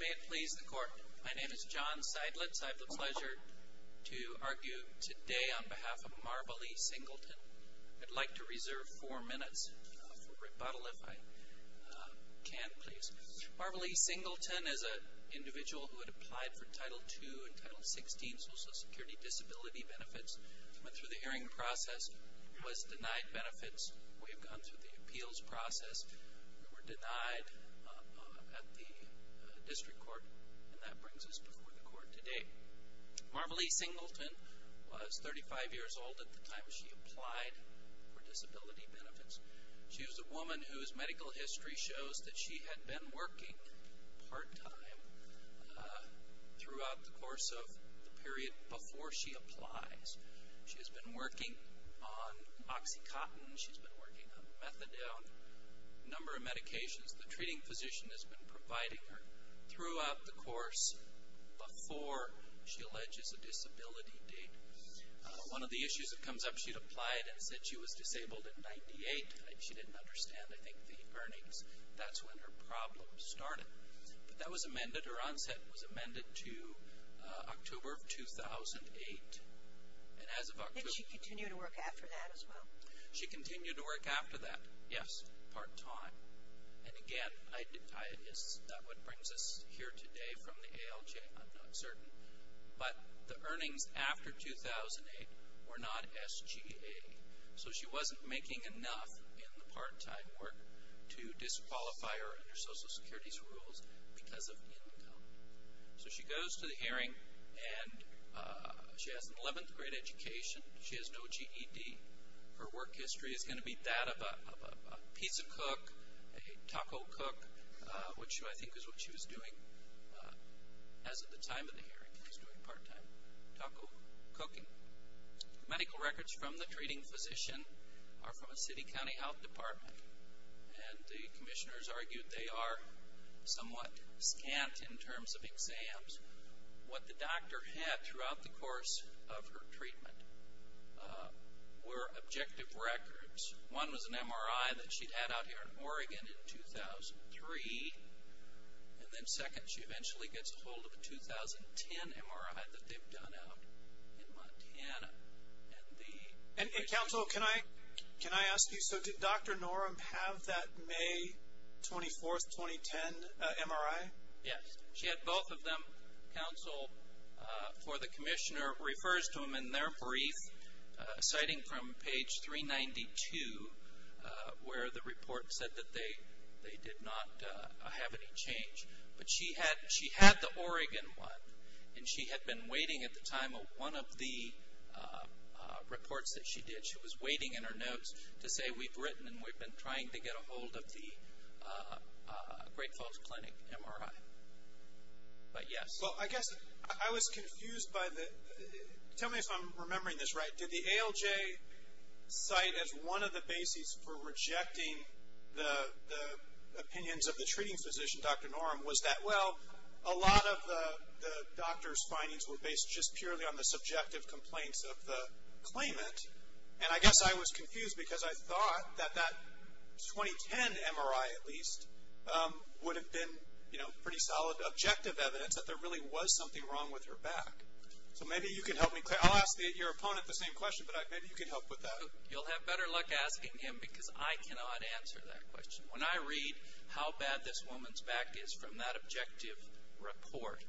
May it please the Court. My name is John Seidlitz. I have the pleasure to argue today on behalf of Marvalee Singleton. I'd like to reserve four minutes for rebuttal if I can please. Marvalee Singleton is a individual who had applied for Title II and Title XVI Social Security Disability Benefits, went through the hearing process, was denied benefits. We have gone through the District Court and that brings us before the Court today. Marvalee Singleton was 35 years old at the time she applied for disability benefits. She was a woman whose medical history shows that she had been working part-time throughout the course of the period before she applies. She has been working on Oxycontin, she's a number of medications. The treating physician has been providing her throughout the course before she alleges a disability date. One of the issues that comes up, she'd applied and said she was disabled in 98. She didn't understand I think the earnings. That's when her problem started. But that was amended, her onset was amended to October of 2008. And as of October... Did she continue to work after that as of that time? And again, that's what brings us here today from the ALJ, I'm not certain. But the earnings after 2008 were not SGA. So she wasn't making enough in the part-time work to disqualify her under Social Security's rules because of income. So she goes to the hearing and she has an 11th grade education. She has no GED. Her work is as a cook, a taco cook, which I think is what she was doing as of the time of the hearing, part-time taco cooking. Medical records from the treating physician are from a city county health department. And the commissioners argued they are somewhat scant in terms of exams. What the doctor had throughout the course of her treatment were objective records. One was an MRI that she had out here in Oregon in 2003. And then second, she eventually gets a hold of a 2010 MRI that they've done out in Montana. And the... And counsel, can I ask you, so did Dr. Norum have that May 24th, 2010 MRI? Yes, she had both of them. Counsel for the commissioner refers to them in their brief, citing from page 392, where the report said that they did not have any change. But she had the Oregon one, and she had been waiting at the time of one of the reports that she did, she was waiting in her notes to say we've written and we've been trying to get a hold of the Great Falls Clinic MRI. But yes. Well, I guess I was confused by the... Tell me if I'm remembering this right. Did the ALJ cite as one of the bases for rejecting the opinions of the treating physician, Dr. Norum, was that, well, a lot of the doctor's findings were based just purely on the subjective complaints of the claimant? And I guess I was confused because I thought that that 2010 MRI, at least, would have been, you know, pretty solid objective evidence that there really was something wrong with her back. So maybe you can help me... I'll ask your opponent the same question, but maybe you can help with that. You'll have better luck asking him because I cannot answer that question. When I read how bad this woman's back is from that objective report,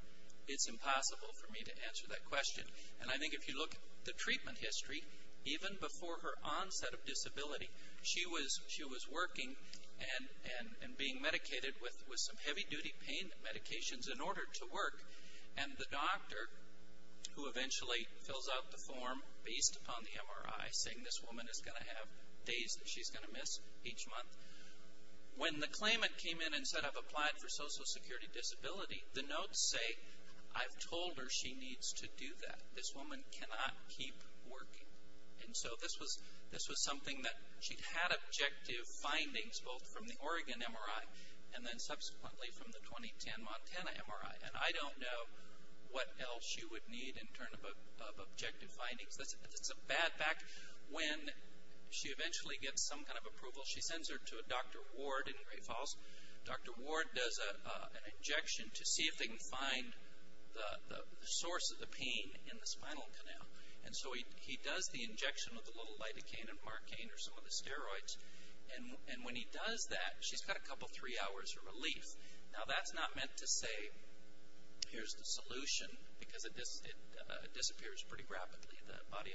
it's impossible for me to answer that question. And I think if you look at the treatment history, even before her onset of disability, she was working and being medicated with some heavy-duty pain medications in order to work. And the doctor, who eventually fills out the form based upon the MRI, saying this woman is going to have days that she's going to miss each month, when the claimant came in and said I've applied for Social Security Disability, the claimant told her she needs to do that. This woman cannot keep working. And so this was something that she'd had objective findings, both from the Oregon MRI and then subsequently from the 2010 Montana MRI. And I don't know what else she would need in terms of objective findings. It's a bad back when she eventually gets some kind of approval. She sends her to a Dr. Ward in Gray Falls. Dr. Ward does an injection to see if he can find the source of the pain in the spinal canal. And so he does the injection with a little lidocaine and marcaine or some of the steroids. And when he does that, she's got a couple, three hours of relief. Now that's not meant to say here's the solution, because it disappears pretty rapidly. The body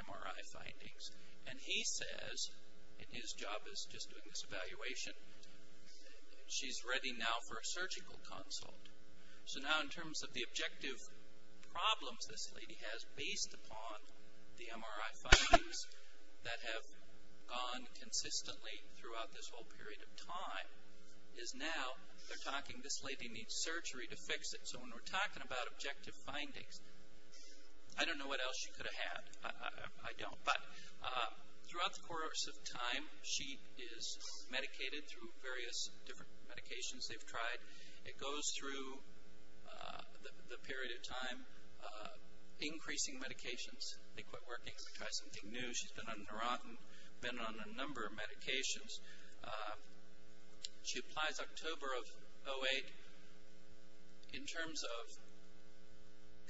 MRI findings. And he says, and his job is just doing this evaluation, she's ready now for a surgical consult. So now in terms of the objective problems this lady has based upon the MRI findings that have gone consistently throughout this whole period of time, is now they're talking this lady needs surgery to fix it. So when we're talking about objective findings, I don't know what else she could have had. I don't. But throughout the course of time she is medicated through various different medications they've tried. It goes through the period of time increasing medications. They In terms of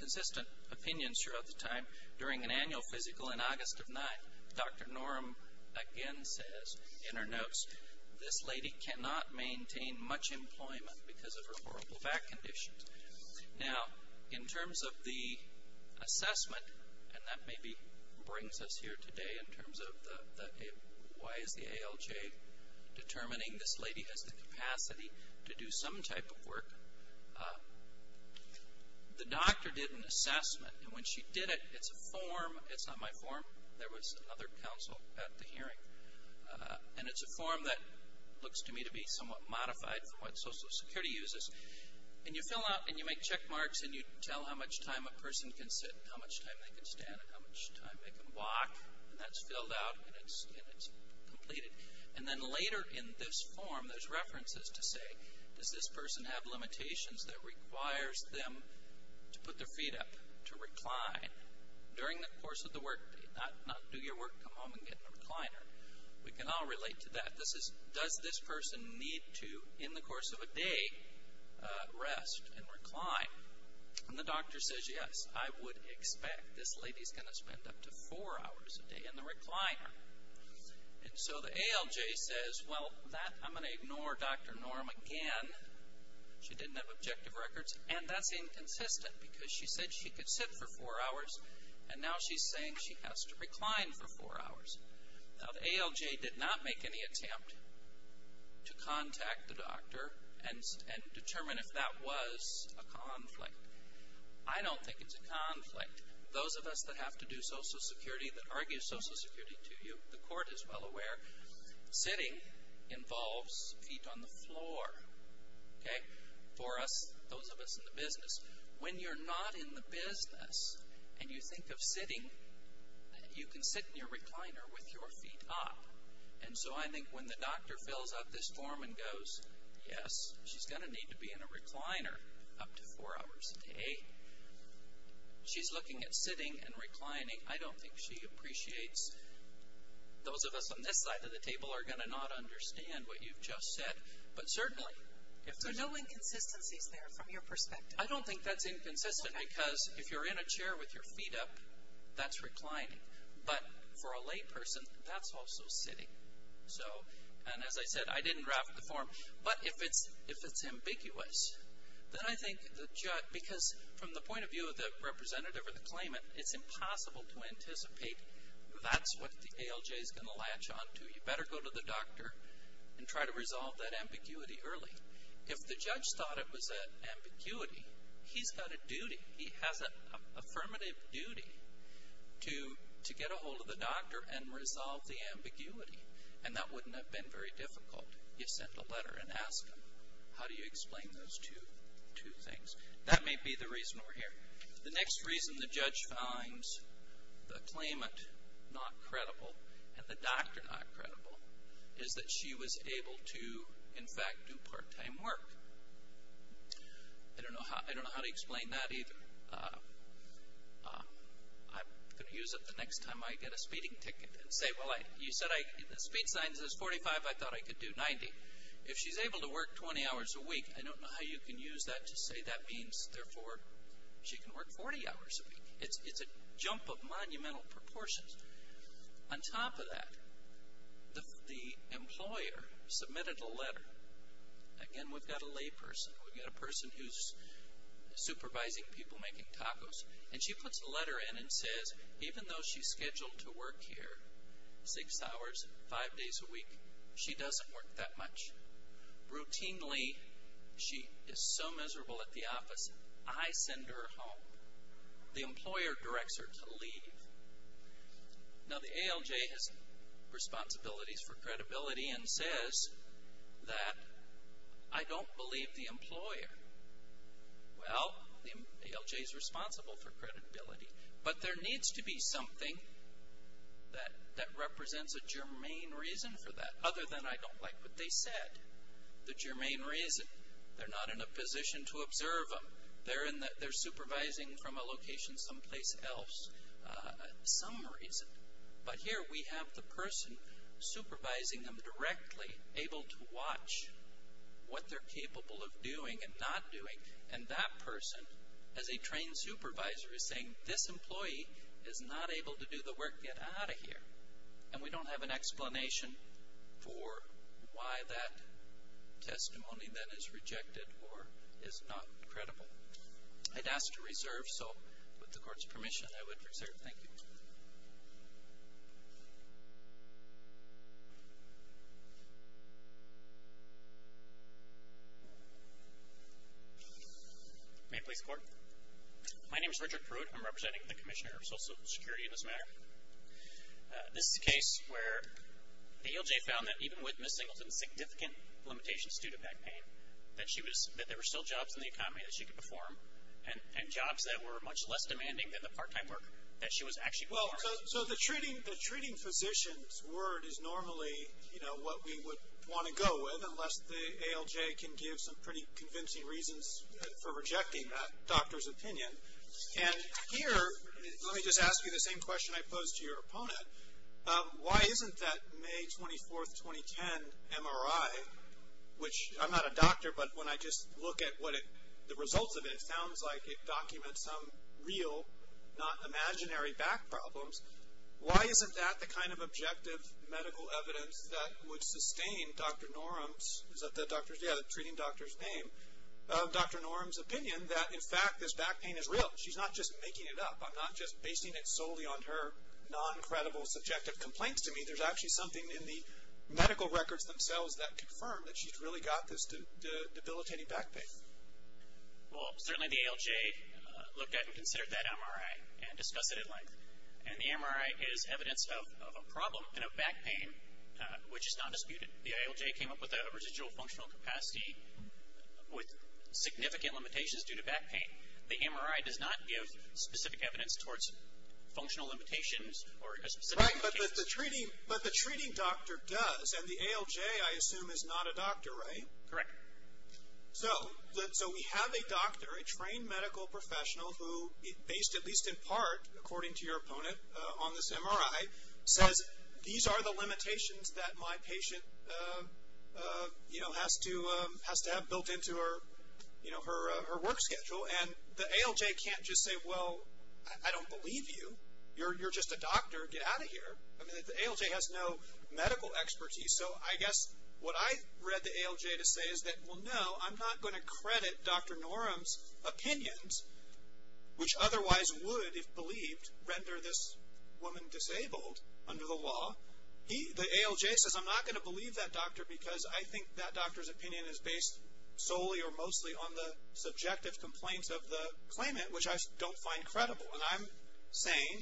consistent opinions throughout the time, during an annual physical in August of 9, Dr. Norm again says in her notes, this lady cannot maintain much employment because of her horrible back condition. Now in terms of the assessment, and that maybe brings us here today in terms of why is the ALJ determining this lady has the capacity to do some type of work, the doctor did an assessment. And when she did it, it's a form, it's not my form, there was another counsel at the hearing. And it's a form that looks to me to be somewhat modified from what Social Security uses. And you fill out and you make And later in this form, there's references to say, does this person have limitations that requires them to put their feet up, to recline, during the course of the work day. Not do your work, come home and get in the recliner. We can all relate to that. Does this person need to, in the course of a day, rest and recline? And the doctor says, yes, I would expect this lady's going to spend up to four hours a day in the recliner. And so the ALJ says, well, I'm going to ignore Dr. Norm again. She didn't have objective records. And that's inconsistent because she said she could sit for four hours and now she's saying she has to recline for four hours. Now the ALJ did not make any attempt to contact the doctor and determine if that was a conflict. I don't think it's a conflict. Those of us that have to do Social Security, that argue Social Security to you, the court is well aware, sitting involves feet on the floor. Okay? For us, those of us in the business, when you're not in the business and you think of reclining, when the doctor fills out this form and goes, yes, she's going to need to be in a recliner up to four hours a day. She's looking at sitting and reclining. I don't think she appreciates. Those of us on this side of the table are going to not understand what you've just said. But certainly, if there's no inconsistencies there from your perspective. I don't think that's so. And as I said, I didn't draft the form. But if it's ambiguous, then I think the judge, because from the point of view of the representative or the claimant, it's impossible to anticipate that's what the ALJ is going to latch onto. You better go to the doctor and try to resolve that ambiguity early. If the judge thought it was an ambiguity, he's got a duty. He has an affirmative duty to get a hold of the doctor and resolve the ambiguity. And that wouldn't have been very difficult. You send a letter and ask them, how do you explain those two things? That may be the reason we're here. The next reason the judge finds the claimant not credible and the doctor not credible is that she was able to, in fact, do part time work. I don't know how to explain that either. I'm going to use it the next time I get a speeding ticket and say, well, you said the speed sign says 45. I thought I could do 90. If she's able to work 20 hours a week, I don't know how you can use that to say that means, therefore, she can work 40 hours a week. It's a jump of monumental proportions. On top of that, the employer submitted a letter. Again, we've got a lay person. We've got a person who's supervising people making tacos. And she puts a letter in and says, even though she's scheduled to work here 6 hours, 5 days a week, she doesn't work that much. Routinely, she is so miserable at the office, I send her home. The employer directs her to leave. Now, the ALJ has responsibilities for credibility and says that I don't believe the employer. Well, the ALJ is responsible for credibility. But there needs to be something that represents a germane reason for that other than I don't like what they said. The germane reason. They're not in a position to observe them. They're supervising from a location someplace else. Some reason. But here we have the person supervising them directly, able to watch what they're capable of doing and not doing. And that person, as a trained supervisor, is saying, this employee is not able to do the work. Get out of here. And we don't have an explanation for why that testimony then is rejected or is not credible. I'd ask to reserve. So with the court's permission, I would reserve. Thank you. May I please record? My name is Richard Pruitt. I'm representing the Commissioner of Social Security in this matter. This is a case where the ALJ found that even with Ms. Singleton's significant limitations due to back pain, that there were still jobs in the economy that she could perform and jobs that were much less demanding than the part-time work that she was actually performing. So the treating physician's word is normally what we would want to go with unless the ALJ can give some pretty convincing reasons for rejecting that doctor's opinion. And here, let me just ask you the same question I posed to your opponent. Why isn't that May 24th, 2010 MRI, which I'm not a doctor, but when I just look at the results of it, it sounds like it documents some real, not imaginary back problems. Why isn't that the kind of objective medical evidence that would sustain Dr. Norum's, is that the treating doctor's name? Dr. Norum's opinion that in fact this back pain is real. She's not just making it up. I'm not just basing it solely on her non-credible subjective complaints to me. There's actually something in the medical records themselves that confirm that she's really got this debilitating back pain. Well, certainly the ALJ looked at and considered that MRI and discussed it at length. And the MRI is evidence of a problem in a back pain, which is not disputed. The ALJ came up with a residual functional capacity with significant limitations due to back pain. The MRI does not give specific evidence towards functional limitations or a specific case. Right, but the treating doctor does. And the ALJ, I assume, is not a doctor, right? Correct. So, we have a doctor, a trained medical professional who, based at least in part, according to your opponent on this MRI, says, these are the limitations that my patient has to have built into her work schedule. And the ALJ can't just say, well, I don't believe you. You're just a doctor. Get out of here. I mean, the ALJ has no medical expertise. So, I guess what I read the ALJ to say is that, well, no, I'm not going to credit Dr. Norum's opinions, which otherwise would, if believed, render this woman disabled under the law. Well, the ALJ says, I'm not going to believe that doctor because I think that doctor's opinion is based solely or mostly on the subjective complaints of the claimant, which I don't find credible. And I'm saying,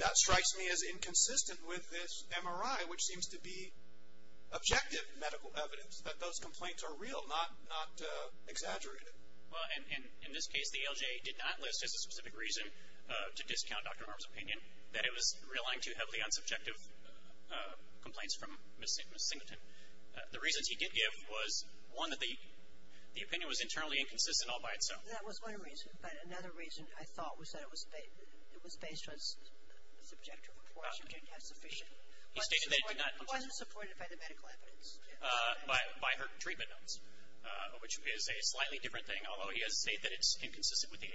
that strikes me as inconsistent with this MRI, which seems to be objective medical evidence, that those complaints are real, not exaggerated. Well, and in this case, the ALJ did not list as a specific reason to discount Dr. Norum's opinion, that it was relying too heavily on subjective complaints from Ms. Singleton. The reasons he did give was, one, that the opinion was internally inconsistent all by itself. That was one reason. But another reason, I thought, was that it was based on subjective reports, which are not sufficient. He stated that he did not. He wasn't supported by the medical evidence. By her treatment notes, which is a slightly different thing, although he does state that it's inconsistent with the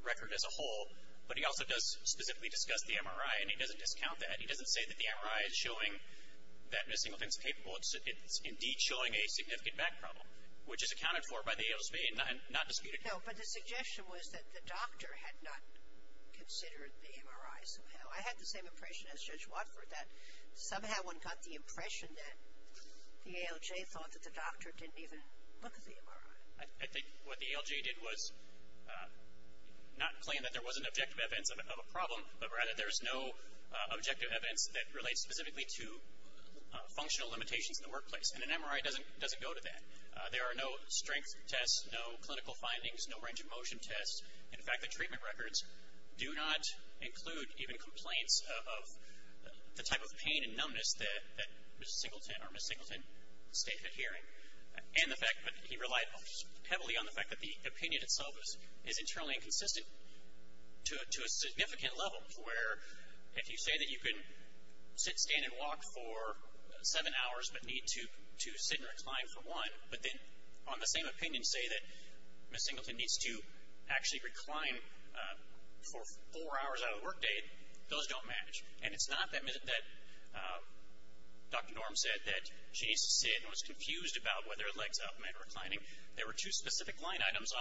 record as a whole. But he also does specifically discuss the MRI, and he doesn't discount that. He doesn't say that the MRI is showing that Ms. Singleton's capable. It's indeed showing a significant back problem, which is accounted for by the ALJ, not disputed. No, but the suggestion was that the doctor had not considered the MRI somehow. I had the same impression as Judge Watford, that somehow one got the impression that the ALJ thought that the doctor didn't even look at the MRI. I think what the ALJ did was not claim that there wasn't objective evidence of a problem, but rather there's no objective evidence that relates specifically to functional limitations in the workplace. And an MRI doesn't go to that. There are no strength tests, no clinical findings, no range of motion tests. In fact, the treatment records do not include even complaints of the type of pain and numbness that Ms. Singleton stated here. And the fact that he relied heavily on the fact that the opinion itself is internally inconsistent to a significant level, where if you say that you can sit, stand, and walk for seven hours but need to sit and recline for one, but then on the same opinion say that Ms. Singleton needs to actually recline for four hours out of the workday, those don't match. And it's not that Dr. Norm said that she needs to sit and was confused about whether legs up meant reclining. There were two specific line items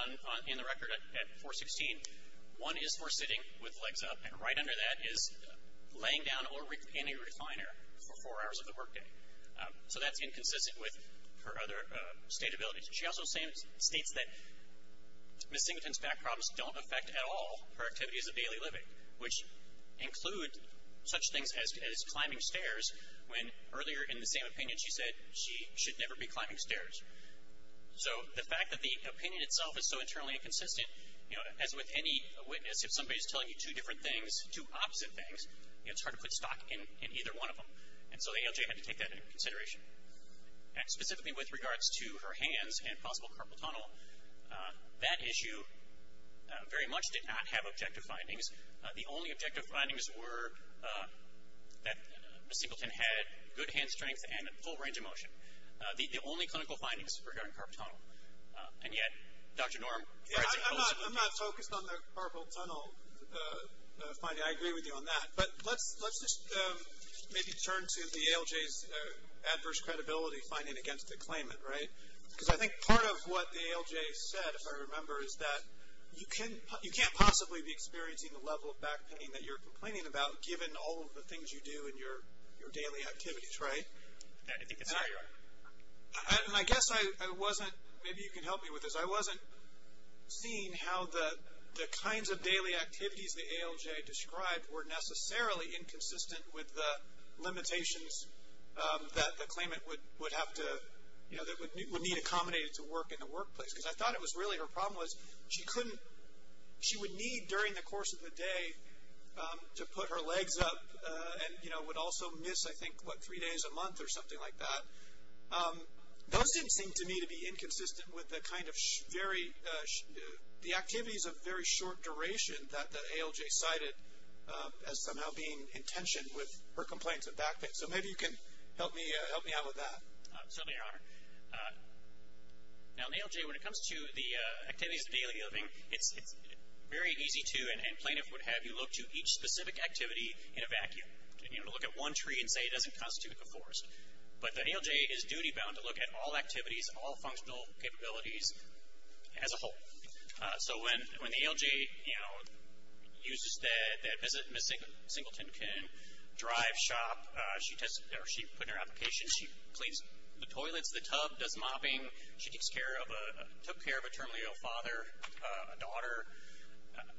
in the record at 416. One is for sitting with legs up, and right under that is laying down or any refiner for four hours of the workday. So that's inconsistent with her other state abilities. She also states that Ms. Singleton's back problems don't affect at all her activities of daily living, which include such things as climbing stairs when earlier in the same opinion she said she should never be climbing stairs. So the fact that the opinion itself is so internally inconsistent, as with any witness, if somebody is telling you two different things, two opposite things, it's hard to put stock in either one of them. And so the ALJ had to take that into consideration. Specifically with regards to her hands and possible carpal tunnel, that issue very much did not have objective findings. The only objective findings were that Ms. Singleton had good hand strength and a full range of motion. The only clinical findings were regarding carpal tunnel. And yet, Dr. Norm- I'm not focused on the carpal tunnel finding. I agree with you on that. But let's just maybe turn to the ALJ's adverse credibility finding against the claimant, right? Because I think part of what the ALJ said, if I remember, is that you can't possibly be experiencing the level of back pain that you're complaining about given all of the things you do in your daily activities, right? And I guess I wasn't, maybe you can help me with this, I wasn't seeing how the kinds of daily activities the ALJ described were necessarily inconsistent with the limitations that the claimant would have to, you know, that would need accommodated to work in the workplace. Because I thought it was really her problem was she couldn't, she would need during the course of the day to put her legs up and, you know, would also miss, I think, what, three days a month or something like that. Those didn't seem to me to be inconsistent with the kind of very, the activities of very short duration that the ALJ cited as somehow being in tension with her complaints of back pain. So maybe you can help me out with that. Certainly, Your Honor. Now in the ALJ, when it comes to the activities of daily living, it's very easy to and plaintiff would have you look to each specific activity in a vacuum. You know, to look at one tree and say it doesn't constitute the forest. But the ALJ is duty bound to look at all activities, all functional capabilities as a whole. So when the ALJ, you know, uses that Ms. Singleton can drive, shop, she puts in her application, she cleans the toilets, the tub, does mopping, she takes care of, took care of a terminally ill father, a daughter,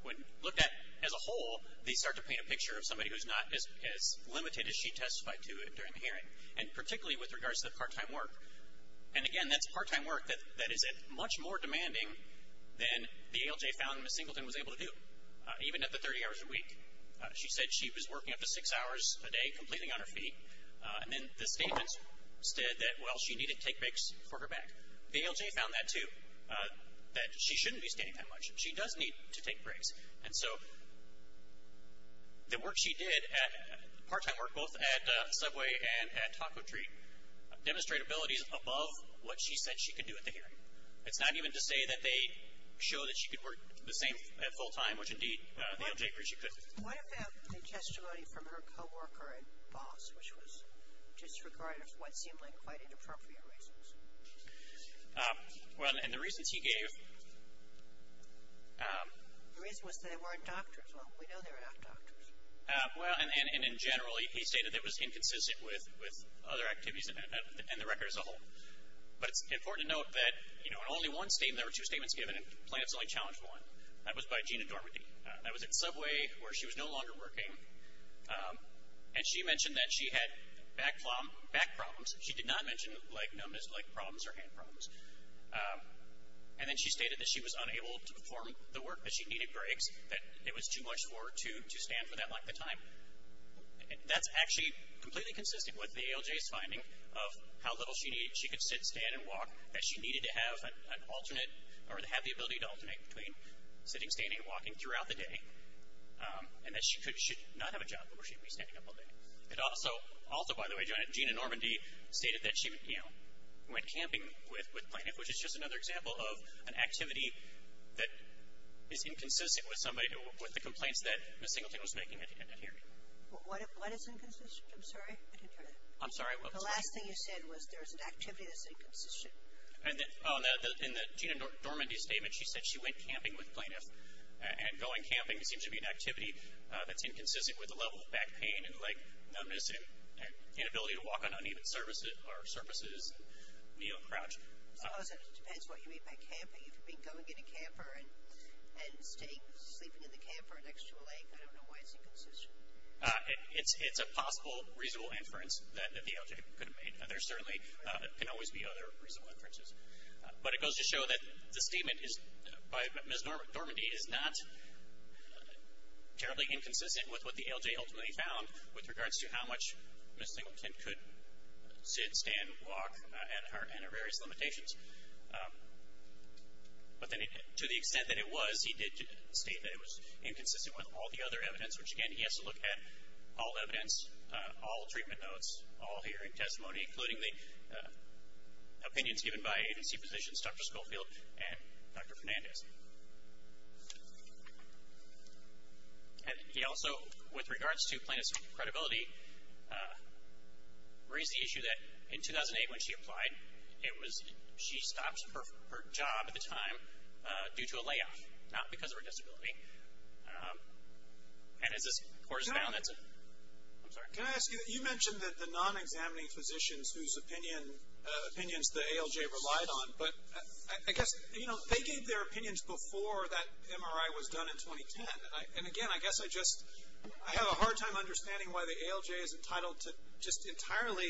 when looked at as a whole, they start to paint a picture of somebody who's not as limited as she testified to during the hearing. And particularly with regards to the part-time work. And again, that's part-time work that is much more demanding than the ALJ found Ms. Singleton was able to do, even at the 30 hours a week. She said she was working up to six hours a day, completely on her feet. And then the statements said that, well, she needed to take breaks for her back. The ALJ found that too, that she shouldn't be standing that much. She does need to take breaks. And so the work she did at part-time work, both at Subway and at Taco Treat, demonstrated abilities above what she said she could do at the hearing. It's not even to say that they show that she could work the same at full-time, which, indeed, the ALJ agreed she could. What about the testimony from her coworker and boss, which was disregarded for what seemed like quite inappropriate reasons? Well, and the reasons he gave. The reason was they weren't doctors. Well, we know they're not doctors. Well, and in general, he stated it was inconsistent with other activities and the record as a whole. But it's important to note that, you know, in only one statement, there were two statements given, and plaintiffs only challenged one. That was by Gina Dormady. That was at Subway, where she was no longer working. And she mentioned that she had back problems. She did not mention, like, known as, like, problems or hand problems. And then she stated that she was unable to perform the work because she needed breaks, that it was too much for her to stand for that length of time. That's actually completely consistent with the ALJ's finding of how little she needed. She could sit, stand, and walk, that she needed to have an alternate or to have the ability to alternate between sitting, standing, and walking throughout the day, and that she should not have a job where she would be standing up all day. It also, also, by the way, Gina Dormady stated that she, you know, went camping with plaintiff, which is just another example of an activity that is inconsistent with somebody, with the complaints that Ms. Singleton was making at the end of the hearing. MS. SINGLETON. What is inconsistent? I didn't hear that. MR. LIEBERMAN. I'm sorry. MS. SINGLETON. The last thing you said was there's an activity that's inconsistent. MR. LIEBERMAN. In the Gina Dormady statement, she said she went camping with plaintiff. And going camping seems to be an activity that's inconsistent with the level of back pain and leg numbness and inability to walk on uneven surfaces and knee or crotch. MS. SINGLETON. It depends what you mean by camping. If you've been going in a camper and sleeping in the camper next to a lake, I don't know why it's inconsistent. MR. LIEBERMAN. It's a possible reasonable inference that the ALJ could have made. There certainly can always be other reasonable inferences. But it goes to show that the statement by Ms. Dormady is not terribly inconsistent with what the ALJ ultimately found with regards to how much Ms. Singleton could sit, stand, walk, and have various limitations. But to the extent that it was, he did state that it was inconsistent with all the other evidence, which, again, he has to look at all evidence, all treatment notes, all hearing testimony, including the opinions given by agency physicians, Dr. Schofield and Dr. Fernandez. And he also, with regards to plaintiff's credibility, raised the issue that in 2008 when she applied, it was she stopped her job at the time due to a layoff, not because of her disability. And as this corresponds, that's a – I'm sorry. Can I ask you – you mentioned that the non-examining physicians whose opinions the ALJ relied on, but I guess, you know, they gave their opinions before that MRI was done in 2010. And, again, I guess I just – I have a hard time understanding why the ALJ is entitled to just entirely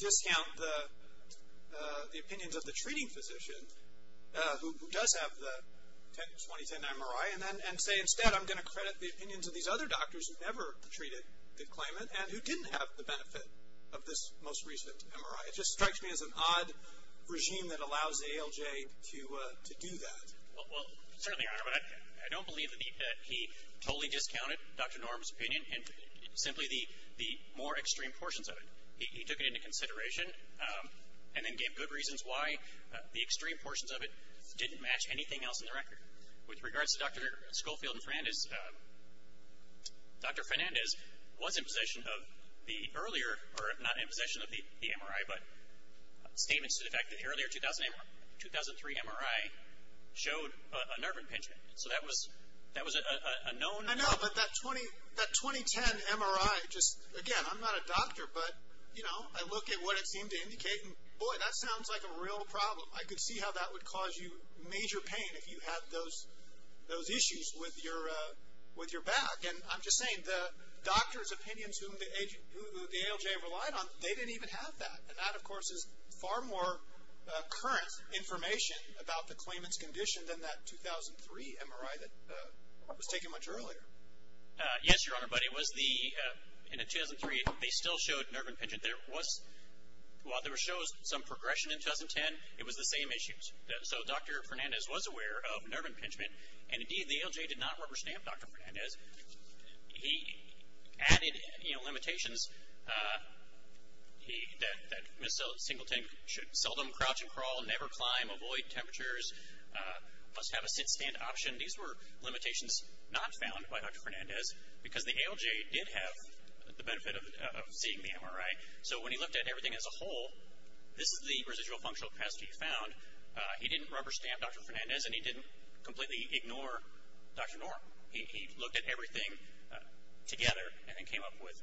discount the opinions of the treating physician who does have the 2010 MRI and say, instead, I'm going to credit the opinions of these other doctors who never treated the claimant and who didn't have the benefit of this most recent MRI. It just strikes me as an odd regime that allows the ALJ to do that. Well, certainly, Your Honor, but I don't believe that he totally discounted Dr. Norm's opinion, simply the more extreme portions of it. He took it into consideration and then gave good reasons why the extreme portions of it didn't match anything else in the record. With regards to Dr. Schofield and Fernandez, Dr. Fernandez was in possession of the earlier – or not in possession of the MRI, but statements to the fact that the earlier 2003 MRI showed a nerve impingement. So that was a known – I know, but that 2010 MRI just – again, I'm not a doctor, but, you know, I look at what it seemed to indicate and, boy, that sounds like a real problem. I could see how that would cause you major pain if you had those issues with your back. And I'm just saying the doctors' opinions whom the ALJ relied on, they didn't even have that. And that, of course, is far more current information about the claimant's condition than that 2003 MRI that was taken much earlier. Yes, Your Honor, but it was the – in 2003, they still showed nerve impingement. There was – while there shows some progression in 2010, it was the same issues. So Dr. Fernandez was aware of nerve impingement, and, indeed, the ALJ did not rubber stamp Dr. Fernandez. He added, you know, limitations that Ms. Singleton should seldom crouch and crawl, never climb, avoid temperatures, must have a sit-stand option. Again, these were limitations not found by Dr. Fernandez because the ALJ did have the benefit of seeing the MRI. So when he looked at everything as a whole, this is the residual functional capacity he found. He didn't rubber stamp Dr. Fernandez, and he didn't completely ignore Dr. Norm. He looked at everything together and then came up with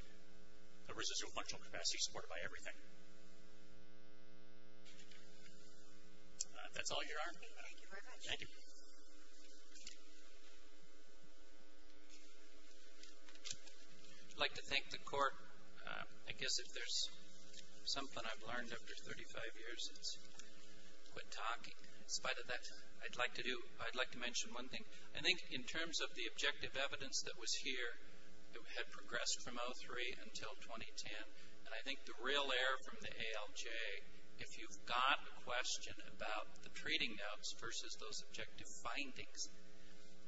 a residual functional capacity supported by everything. That's all, Your Honor. Thank you very much. Thank you. I'd like to thank the Court. I guess if there's something I've learned after 35 years, it's quit talking. In spite of that, I'd like to do – I'd like to mention one thing. I think in terms of the objective evidence that was here, it had progressed from 03 until 2010, and I think the real error from the ALJ, if you've got a question about the treating of versus those objective findings,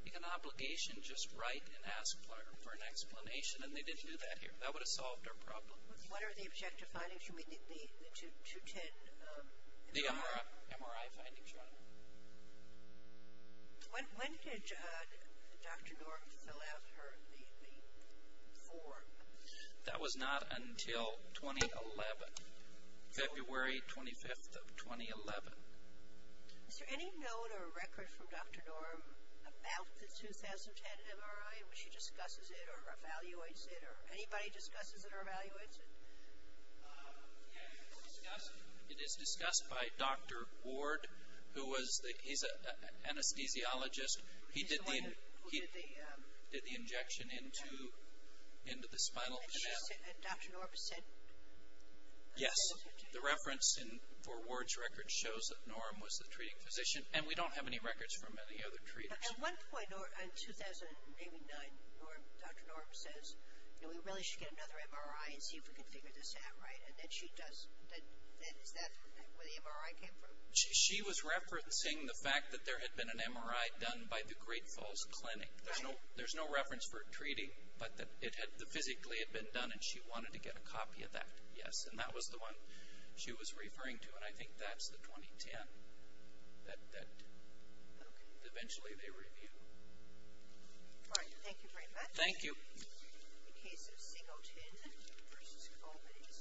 you have an obligation to just write and ask for an explanation, and they didn't do that here. That would have solved our problem. What are the objective findings? You mean the 2010 MRI? The MRI findings, Your Honor. When did Dr. Norm fill out the form? That was not until 2011, February 25th of 2011. Is there any note or record from Dr. Norm about the 2010 MRI? When she discusses it or evaluates it, or anybody discusses it or evaluates it? It is discussed by Dr. Ward, who was the – he's an anesthesiologist. He did the injection into the spinal canal. And Dr. Norm said – Yes. The reference for Ward's record shows that Norm was the treating physician, and we don't have any records from any other treaters. At one point in 2089, Dr. Norm says, you know, we really should get another MRI and see if we can figure this out, right? And then she does – is that where the MRI came from? She was referencing the fact that there had been an MRI done by the Great Falls Clinic. Right. There's no reference for treating, but that it physically had been done, and she wanted to get a copy of that, yes. And that was the one she was referring to, and I think that's the 2010 that eventually they reviewed. All right. Thank you very much. Thank you. In the case of Singleton v. Colby's.